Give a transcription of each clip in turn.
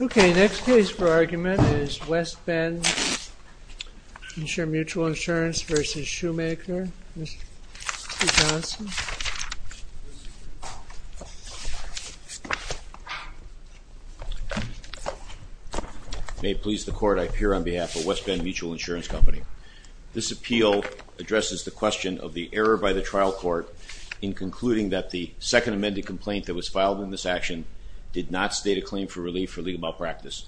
Okay, next case for argument is West Bend Mutual Insurance v. Schumacher. Mr. Johnson. May it please the Court, I appear on behalf of West Bend Mutual Insurance Company. This appeal addresses the question of the error by the trial court in concluding that the second amended complaint that was filed in this action did not state a claim for relief for legal malpractice.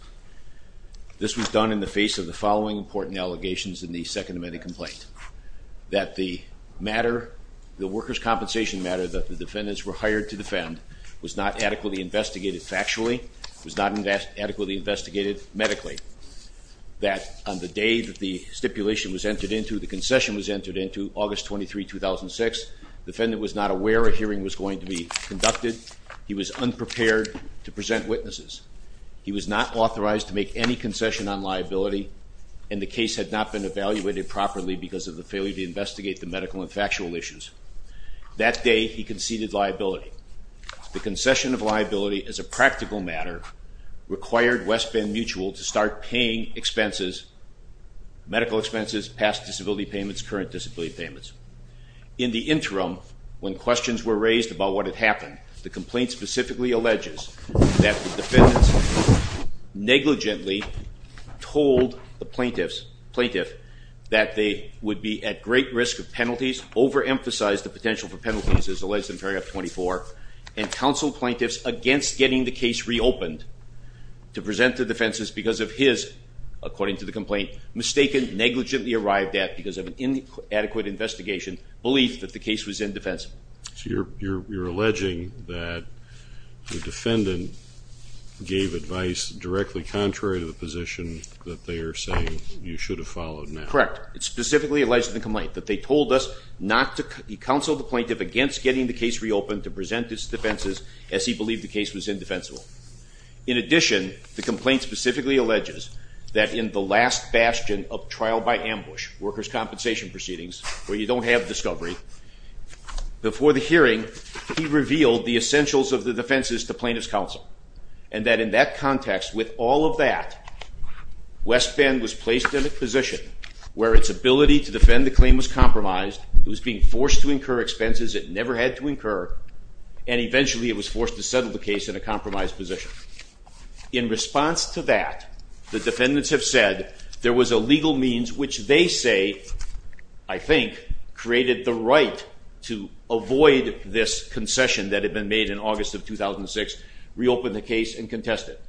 This was done in the face of the following important allegations in the second amended complaint. That the matter, the workers' compensation matter that the defendants were hired to defend was not adequately investigated factually, was not adequately investigated medically. That on the day that the stipulation was entered into, the concession was entered into, August 23, 2006, the defendant was not aware a hearing was going to be conducted. He was unprepared to present witnesses. He was not authorized to make any concession on liability, and the case had not been evaluated properly because of the failure to investigate the medical and factual issues. That day, he conceded liability. The concession of liability as a practical matter required West Bend Mutual to start paying expenses, medical expenses, past disability payments, current disability payments. In the interim, when questions were raised about what had happened, the complaint specifically alleges that the defendants negligently told the plaintiff that they would be at great risk of penalties, overemphasized the potential for penalties as alleged in paragraph 24, and counseled plaintiffs against getting the case reopened to present the defenses because of his, according to the complaint, mistaken, negligently arrived at because of an inadequate investigation, belief that the case was indefensible. So you're alleging that the defendant gave advice directly contrary to the position that they are saying you should have followed now. Correct. It's specifically alleged in the complaint that they told us not to, he counseled the plaintiff against getting the case reopened to present its defenses as he believed the case was indefensible. In addition, the complaint specifically alleges that in the last bastion of trial by ambush, workers' compensation proceedings, where you don't have discovery, before the hearing he revealed the essentials of the defenses to plaintiff's counsel and that in that context, with all of that, West Bend was placed in a position where its ability to defend the claim was compromised, it was being forced to incur expenses it never had to incur, and eventually it was forced to settle the case in a compromised position. In response to that, the defendants have said there was a legal means which they say, I think, created the right to avoid this concession that had been made in August of 2006, reopen the case and contest it.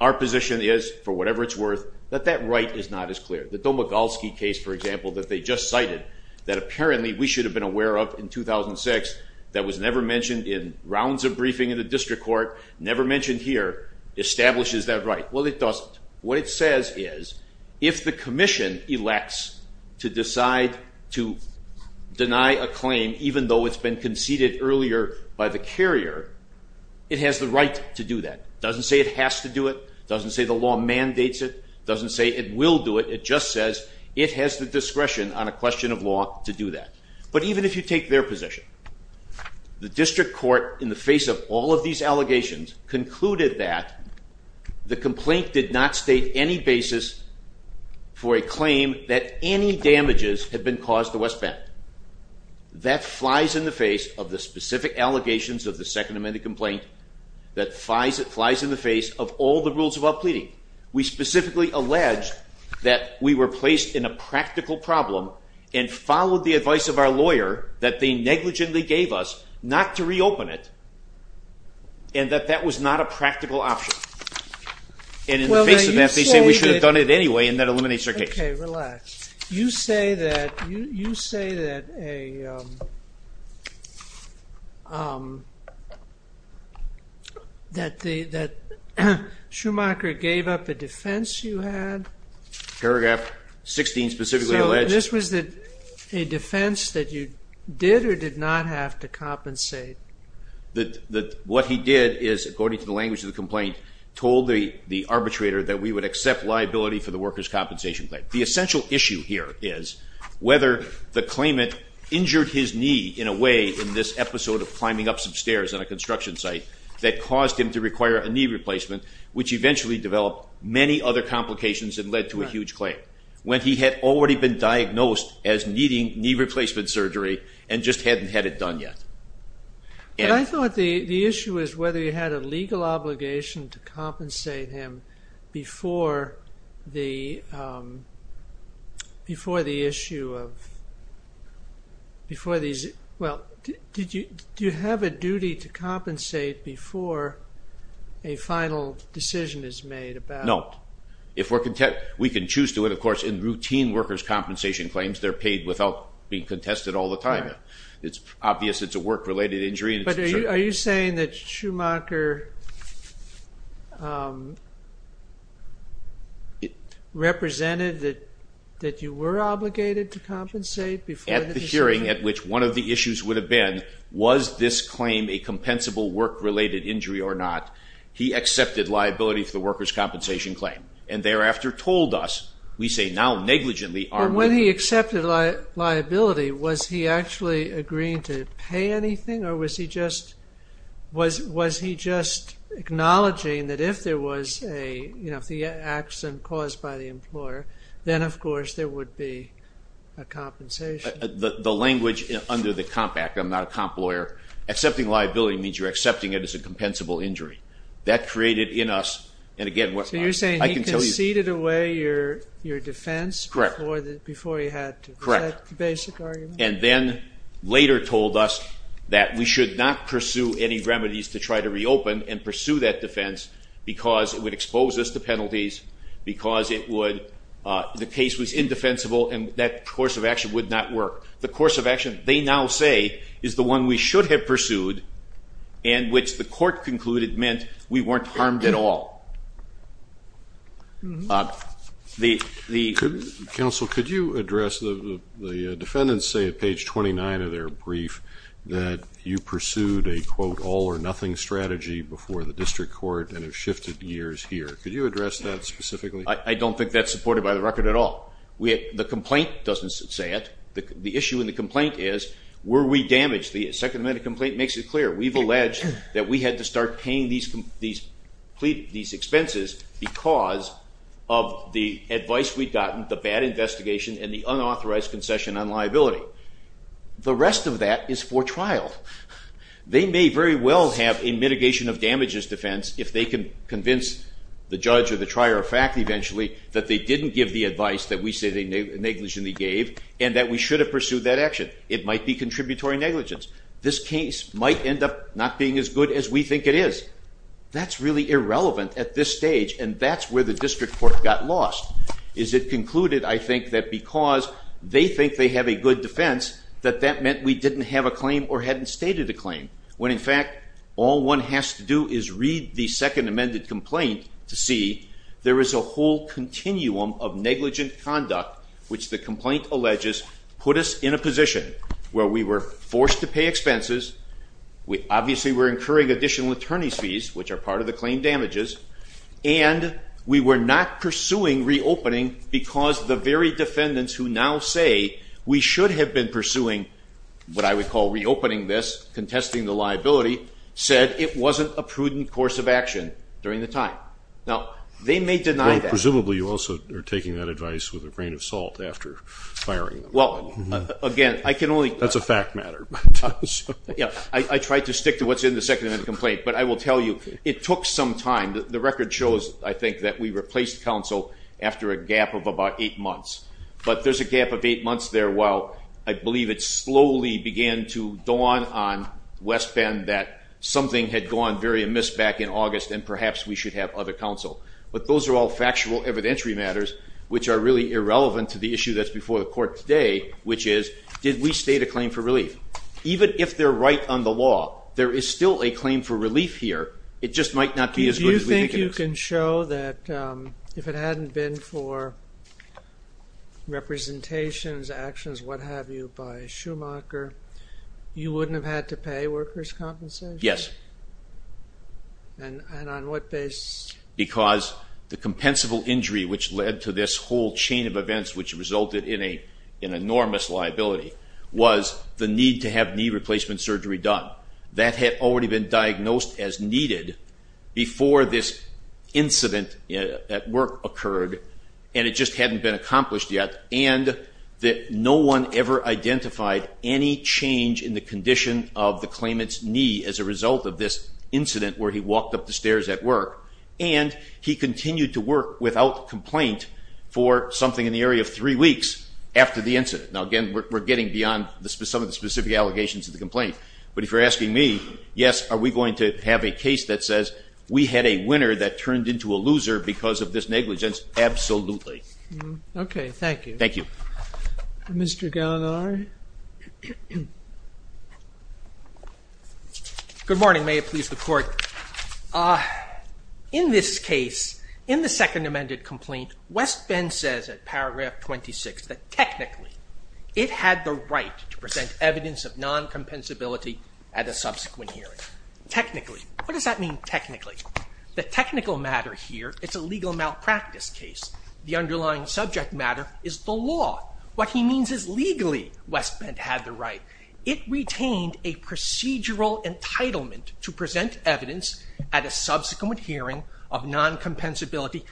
Our position is, for whatever it's worth, that that right is not as clear. The Domogolsky case, for example, that they just cited, that apparently we should have been aware of in 2006, that was never mentioned in rounds of briefing in the district court, never mentioned here, establishes that right. Well, it doesn't. What it says is if the commission elects to decide to deny a claim, even though it's been conceded earlier by the carrier, it has the right to do that. It doesn't say it has to do it. It doesn't say the law mandates it. It doesn't say it will do it. It just says it has the discretion on a question of law to do that. But even if you take their position, the district court in the face of all of these allegations concluded that the complaint did not state any basis for a claim that any damages had been caused to West Bend. That flies in the face of the specific allegations of the Second Amendment complaint. That flies in the face of all the rules of our pleading. We specifically allege that we were placed in a practical problem and followed the advice of our lawyer that they negligently gave us not to reopen it and that that was not a practical option. And in the face of that, they say we should have done it anyway and that eliminates our case. Okay, relax. You say that Schumacher gave up a defense you had? Paragraph 16 specifically alleged. So this was a defense that you did or did not have to compensate? What he did is, according to the language of the complaint, told the arbitrator that we would accept liability for the workers' compensation claim. The essential issue here is whether the claimant injured his knee in a way, in this episode of climbing up some stairs on a construction site, that caused him to require a knee replacement, which eventually developed many other complications and led to a huge claim, when he had already been diagnosed as needing knee replacement surgery and just hadn't had it done yet. But I thought the issue is whether you had a legal obligation to compensate him before the issue of, well, do you have a duty to compensate before a final decision is made? No. We can choose to, and of course in routine workers' compensation claims, they're paid without being contested all the time. It's obvious it's a work-related injury. But are you saying that Schumacher represented that you were obligated to compensate before the decision? At the hearing, at which one of the issues would have been, was this claim a compensable work-related injury or not, he accepted liability for the workers' compensation claim and thereafter told us, we say now negligently, our workers' compensation claim. When he accepted liability, was he actually agreeing to pay anything or was he just acknowledging that if there was an accident caused by the employer, then of course there would be a compensation? The language under the COMP Act, I'm not a COMP lawyer, accepting liability means you're accepting it as a compensable injury. That created in us, and again, I can tell you... Correct. And then later told us that we should not pursue any remedies to try to reopen and pursue that defense because it would expose us to penalties, because the case was indefensible and that course of action would not work. The course of action, they now say, is the one we should have pursued and which the court concluded meant we weren't harmed at all. The... Counsel, could you address, the defendants say at page 29 of their brief that you pursued a, quote, all-or-nothing strategy before the district court and have shifted gears here. Could you address that specifically? I don't think that's supported by the record at all. The complaint doesn't say it. The issue in the complaint is, were we damaged? The second amendment complaint makes it clear. We've alleged that we had to start paying these expenses because of the advice we'd gotten, the bad investigation, and the unauthorized concession on liability. The rest of that is for trial. They may very well have a mitigation of damages defense if they can convince the judge or the trier of fact eventually that they didn't give the advice that we say they negligently gave and that we should have pursued that action. It might be contributory negligence. This case might end up not being as good as we think it is. That's really irrelevant at this stage, and that's where the district court got lost, is it concluded, I think, that because they think they have a good defense that that meant we didn't have a claim or hadn't stated a claim when, in fact, all one has to do is read the second amended complaint to see there is a whole continuum of negligent conduct which the complaint alleges put us in a position where we were forced to pay expenses, obviously we're incurring additional attorney's fees, which are part of the claim damages, and we were not pursuing reopening because the very defendants who now say we should have been pursuing what I would call reopening this, contesting the liability, said it wasn't a prudent course of action during the time. Now, they may deny that. Presumably you also are taking that advice with a grain of salt after firing them. Well, again, I can only... That's a fact matter. I tried to stick to what's in the second amended complaint, but I will tell you, it took some time. The record shows, I think, that we replaced counsel after a gap of about eight months. But there's a gap of eight months there while I believe it slowly began to dawn on West Bend that something had gone very amiss back in August and perhaps we should have other counsel. But those are all factual evidentiary matters which are really irrelevant to the issue that's before the court today, which is, did we state a claim for relief? Even if they're right on the law, there is still a claim for relief here. It just might not be as good as we think it is. Do you think you can show that if it hadn't been for representations, actions, what have you, by Schumacher, you wouldn't have had to pay workers' compensation? Yes. And on what basis? Because the compensable injury which led to this whole chain of events which resulted in an enormous liability was the need to have knee replacement surgery done. That had already been diagnosed as needed before this incident at work occurred, and it just hadn't been accomplished yet. And no one ever identified any change in the condition of the claimant's knee as a result of this incident where he walked up the stairs at work. And he continued to work without complaint for something in the area of three weeks after the incident. Now, again, we're getting beyond some of the specific allegations of the complaint. But if you're asking me, yes, are we going to have a case that says we had a winner that turned into a loser because of this negligence? Absolutely. Okay, thank you. Thank you. Mr. Gallagher? Good morning. May it please the Court. In this case, in the second amended complaint, West Bend says at paragraph 26 that technically it had the right to present evidence of non-compensability at a subsequent hearing. Technically. What does that mean, technically? The technical matter here is a legal malpractice case. The underlying subject matter is the law. What he means is legally West Bend had the right. It retained a procedural entitlement to present evidence at a subsequent hearing of non-compensability.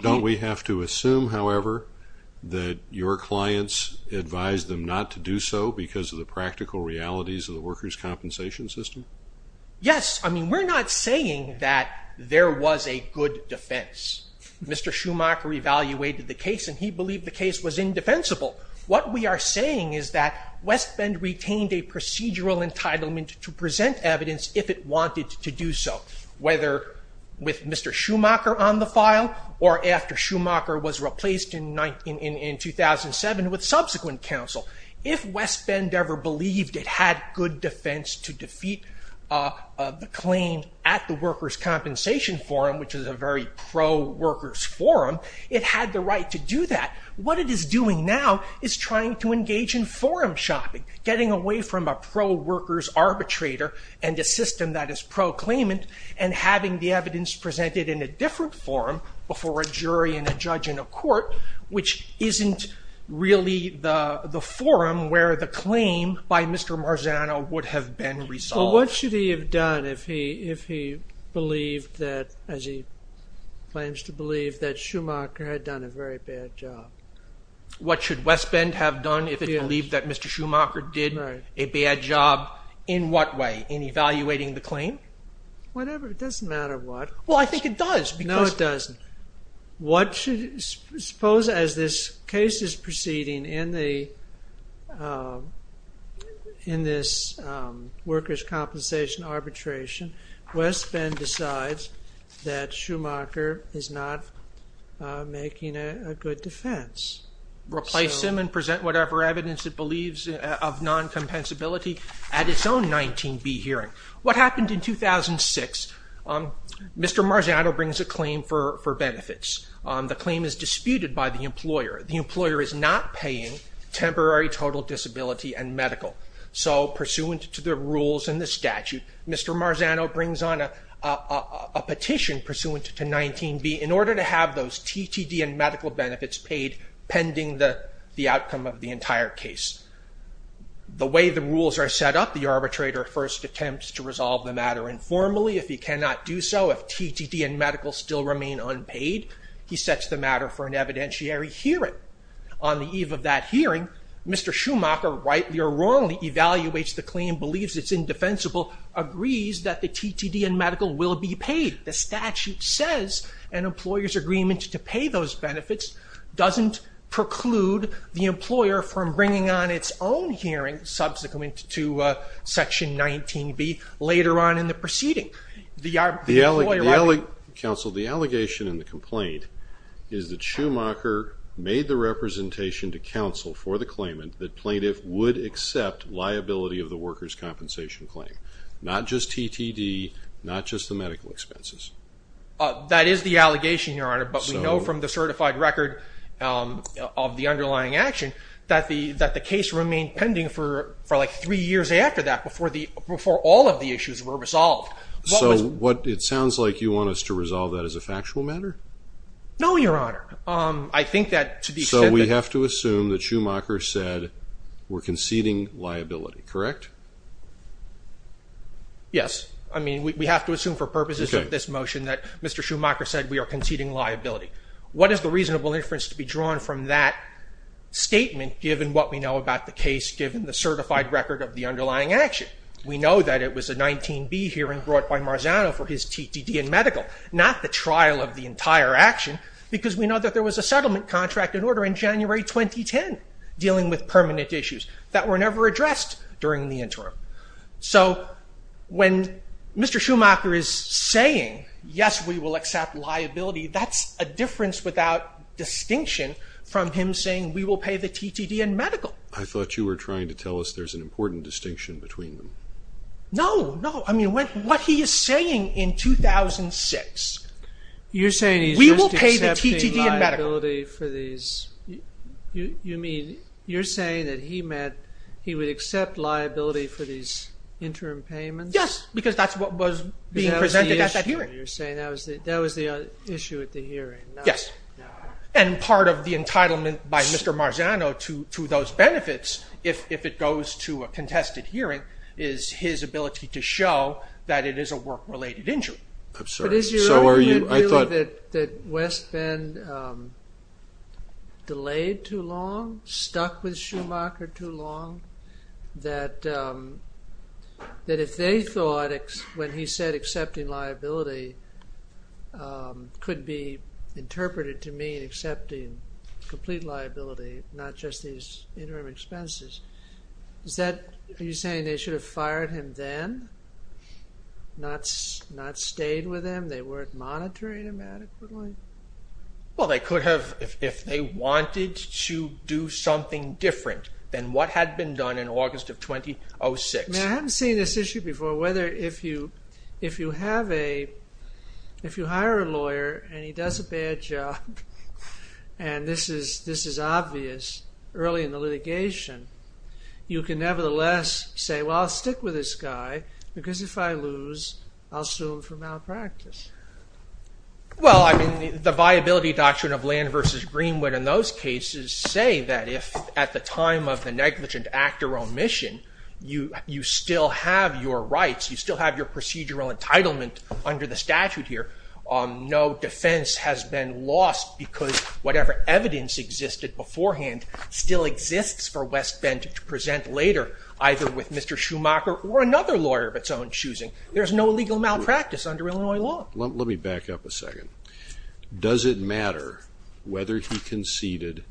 Don't we have to assume, however, that your clients advised them not to do so because of the practical realities of the workers' compensation system? Yes. I mean, we're not saying that there was a good defense. Mr. Schumacher evaluated the case, and he believed the case was indefensible. What we are saying is that West Bend retained a procedural entitlement to present evidence if it wanted to do so, whether with Mr. Schumacher on the file or after Schumacher was replaced in 2007 with subsequent counsel. If West Bend ever believed it had good defense to defeat the claim at the workers' compensation forum, which is a very pro-workers forum, it had the right to do that. What it is doing now is trying to engage in forum shopping, getting away from a pro-workers arbitrator and a system that is pro-claimant and having the evidence presented in a different forum before a jury and a judge and a court, which isn't really the forum where the claim by Mr. Marzano would have been resolved. Well, what should he have done if he believed that, as he claims to believe, that Schumacher had done a very bad job? What should West Bend have done if it believed that Mr. Schumacher did a bad job? In what way? In evaluating the claim? Whatever. It doesn't matter what. Well, I think it does. No, it doesn't. Suppose as this case is proceeding in this workers' compensation arbitration, West Bend decides that Schumacher is not making a good defense. Replace him and present whatever evidence it believes of non-compensability at its own 19B hearing. What happened in 2006? Mr. Marzano brings a claim for benefits. The claim is disputed by the employer. The employer is not paying temporary total disability and medical. So pursuant to the rules and the statute, Mr. Marzano brings on a petition pursuant to 19B in order to have those TTD and medical benefits paid pending the outcome of the entire case. The way the rules are set up, the arbitrator first attempts to resolve the matter informally. If he cannot do so, if TTD and medical still remain unpaid, he sets the matter for an evidentiary hearing. On the eve of that hearing, Mr. Schumacher rightly or wrongly evaluates the claim, believes it's indefensible, agrees that the TTD and medical will be paid. The statute says an employer's agreement to pay those benefits doesn't preclude the employer from bringing on its own hearing subsequent to section 19B later on in the proceeding. Counsel, the allegation in the complaint is that Schumacher made the representation to counsel for the claimant that plaintiff would accept liability of the workers' compensation claim, not just TTD, not just the medical expenses. That is the allegation, Your Honor, but we know from the certified record of the underlying action that the case remained pending for like three years after that before all of the issues were resolved. So it sounds like you want us to resolve that as a factual matter? No, Your Honor. So we have to assume that Schumacher said we're conceding liability, correct? Yes. I mean, we have to assume for purposes of this motion that Mr. Schumacher said we are conceding liability. What is the reasonable inference to be drawn from that statement given what we know about the case, given the certified record of the underlying action? We know that it was a 19B hearing brought by Marzano for his TTD and medical, not the trial of the entire action, because we know that there was a settlement contract in order in January 2010 dealing with permanent issues that were never addressed during the interim. So when Mr. Schumacher is saying, yes, we will accept liability, that's a difference without distinction from him saying we will pay the TTD and medical. I thought you were trying to tell us there's an important distinction between them. No, no. I mean, what he is saying in 2006, you're saying he's just accepting liability for these. You mean you're saying that he meant he would accept liability for these interim payments? Yes, because that's what was being presented at that hearing. You're saying that was the issue at the hearing. Yes. And part of the entitlement by Mr. Marzano to those benefits if it goes to a contested hearing is his ability to show that it is a work-related injury. I'm sorry. So are you. Do you feel that West Bend delayed too long, stuck with Schumacher too long, that if they thought when he said accepting liability could be interpreted to mean accepting complete liability, not just these interim expenses, is that, are you saying they should have fired him then, not stayed with him? They weren't monitoring him adequately? Well, they could have if they wanted to do something different than what had been done in August of 2006. Now, I haven't seen this issue before, whether if you have a, if you hire a lawyer and he does a bad job, and this is obvious early in the litigation, you can nevertheless say, well, I'll stick with this guy because if I lose, I'll sue him for malpractice. Well, I mean, the viability doctrine of Land v. Greenwood in those cases say that if at the time of the negligent actor omission, you still have your rights, you still have your procedural entitlement under the statute here, no defense has been lost because whatever evidence existed beforehand still exists for West Bend to present later, either with Mr. Schumacher or another lawyer of its own choosing. There's no legal malpractice under Illinois law. Let me back up a second. Does it matter whether he conceded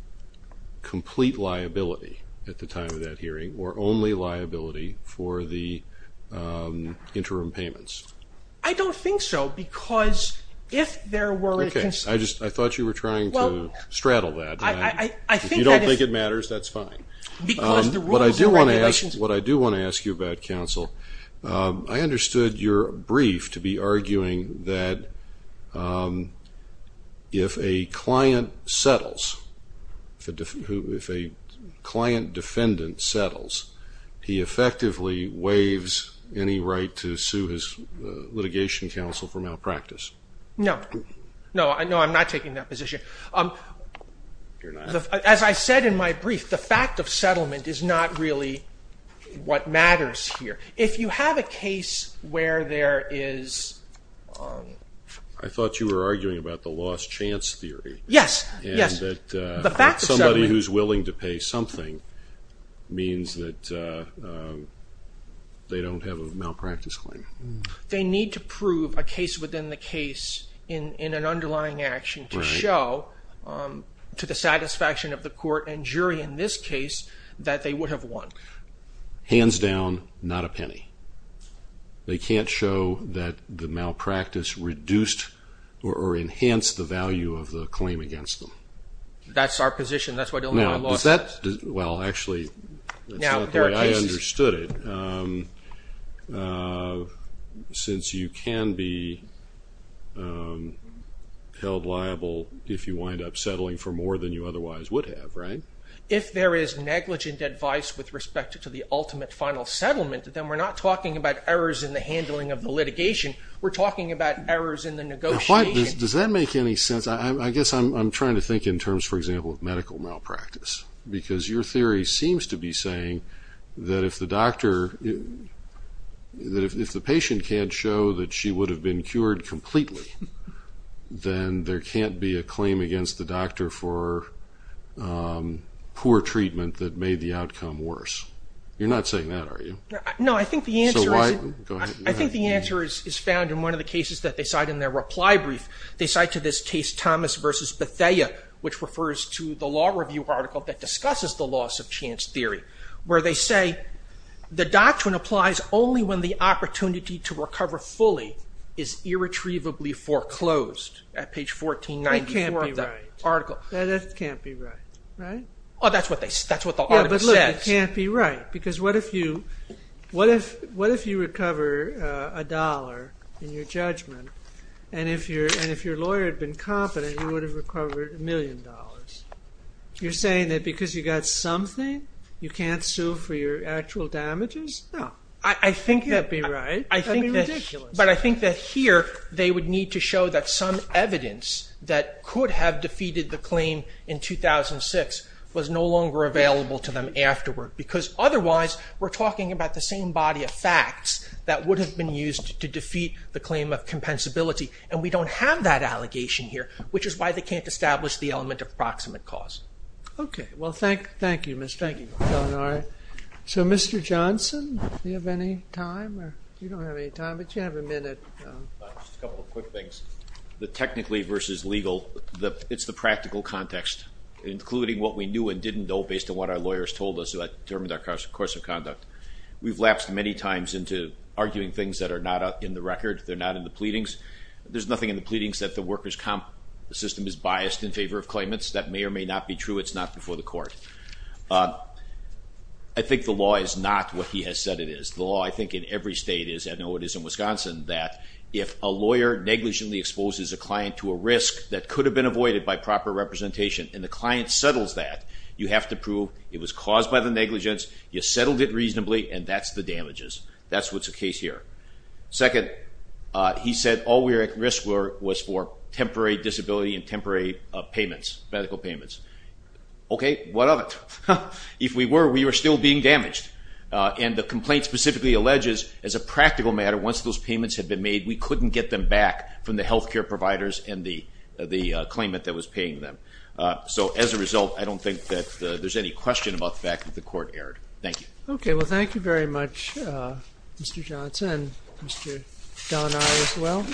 complete liability at the time of that hearing or only liability for the interim payments? I don't think so because if there were a... Okay, I thought you were trying to straddle that. If you don't think it matters, that's fine. What I do want to ask you about, counsel, I understood your brief to be arguing that if a client settles, if a client defendant settles, he effectively waives any right to sue his litigation counsel for malpractice. No, I'm not taking that position. You're not? As I said in my brief, the fact of settlement is not really what matters here. If you have a case where there is... I thought you were arguing about the lost chance theory. Yes, yes. And that somebody who's willing to pay something means that they don't have a malpractice claim. They need to prove a case within the case in an underlying action to show to the satisfaction of the court and jury in this case that they would have won. Hands down, not a penny. They can't show that the malpractice reduced or enhanced the value of the claim against them. That's our position. That's why I don't know why I lost that. Well, actually, that's not the way I understood it. Since you can be held liable if you wind up settling for more than you otherwise would have, right? If there is negligent advice with respect to the ultimate final settlement, then we're not talking about errors in the handling of the litigation. We're talking about errors in the negotiation. Now, does that make any sense? I guess I'm trying to think in terms, for example, of medical malpractice. Because your theory seems to be saying that if the patient can't show that she would have been cured completely, then there can't be a claim against the doctor for poor treatment that made the outcome worse. You're not saying that, are you? No, I think the answer is found in one of the cases that they cite in their reply brief. They cite to this case Thomas v. Bethea, which refers to the law review article that discusses the loss of chance theory, where they say the doctrine applies only when the opportunity to recover fully is irretrievably foreclosed, at page 1494 of the article. That can't be right. That can't be right, right? Oh, that's what the article says. Yeah, but look, it can't be right. Because what if you recover a dollar in your judgment, and if your lawyer had been competent, you would have recovered a million dollars. You're saying that because you got something, you can't sue for your actual damages? No, I think that'd be right. That'd be ridiculous. But I think that here they would need to show that some evidence that could have defeated the claim in 2006 was no longer available to them afterward, because otherwise we're talking about the same body of facts that would have been used to defeat the claim of compensability, and we don't have that allegation here, which is why they can't establish the element of proximate cause. Okay. Well, thank you, Mr. Eleanor. So, Mr. Johnson, do you have any time? You don't have any time, but you have a minute. Just a couple of quick things. The technically versus legal, it's the practical context, including what we knew and didn't know based on what our lawyers told us that determined our course of conduct. We've lapsed many times into arguing things that are not in the record, they're not in the pleadings. There's nothing in the pleadings that the workers' comp system is biased in favor of claimants. That may or may not be true. It's not before the court. I think the law is not what he has said it is. The law, I think, in every state is, I know it is in Wisconsin, that if a lawyer negligently exposes a client to a risk that could have been avoided by proper representation and the client settles that, you have to prove it was caused by the negligence, you settled it reasonably, and that's the damages. That's what's the case here. Second, he said all we risked was for temporary disability and temporary payments. Medical payments. Okay, what of it? If we were, we were still being damaged. And the complaint specifically alleges, as a practical matter, once those payments had been made, we couldn't get them back from the health care providers and the claimant that was paying them. So as a result, I don't think that there's any question about the fact that the court erred. Thank you. Okay, well, thank you very much, Mr. Johnson, and Mr. Delaney as well.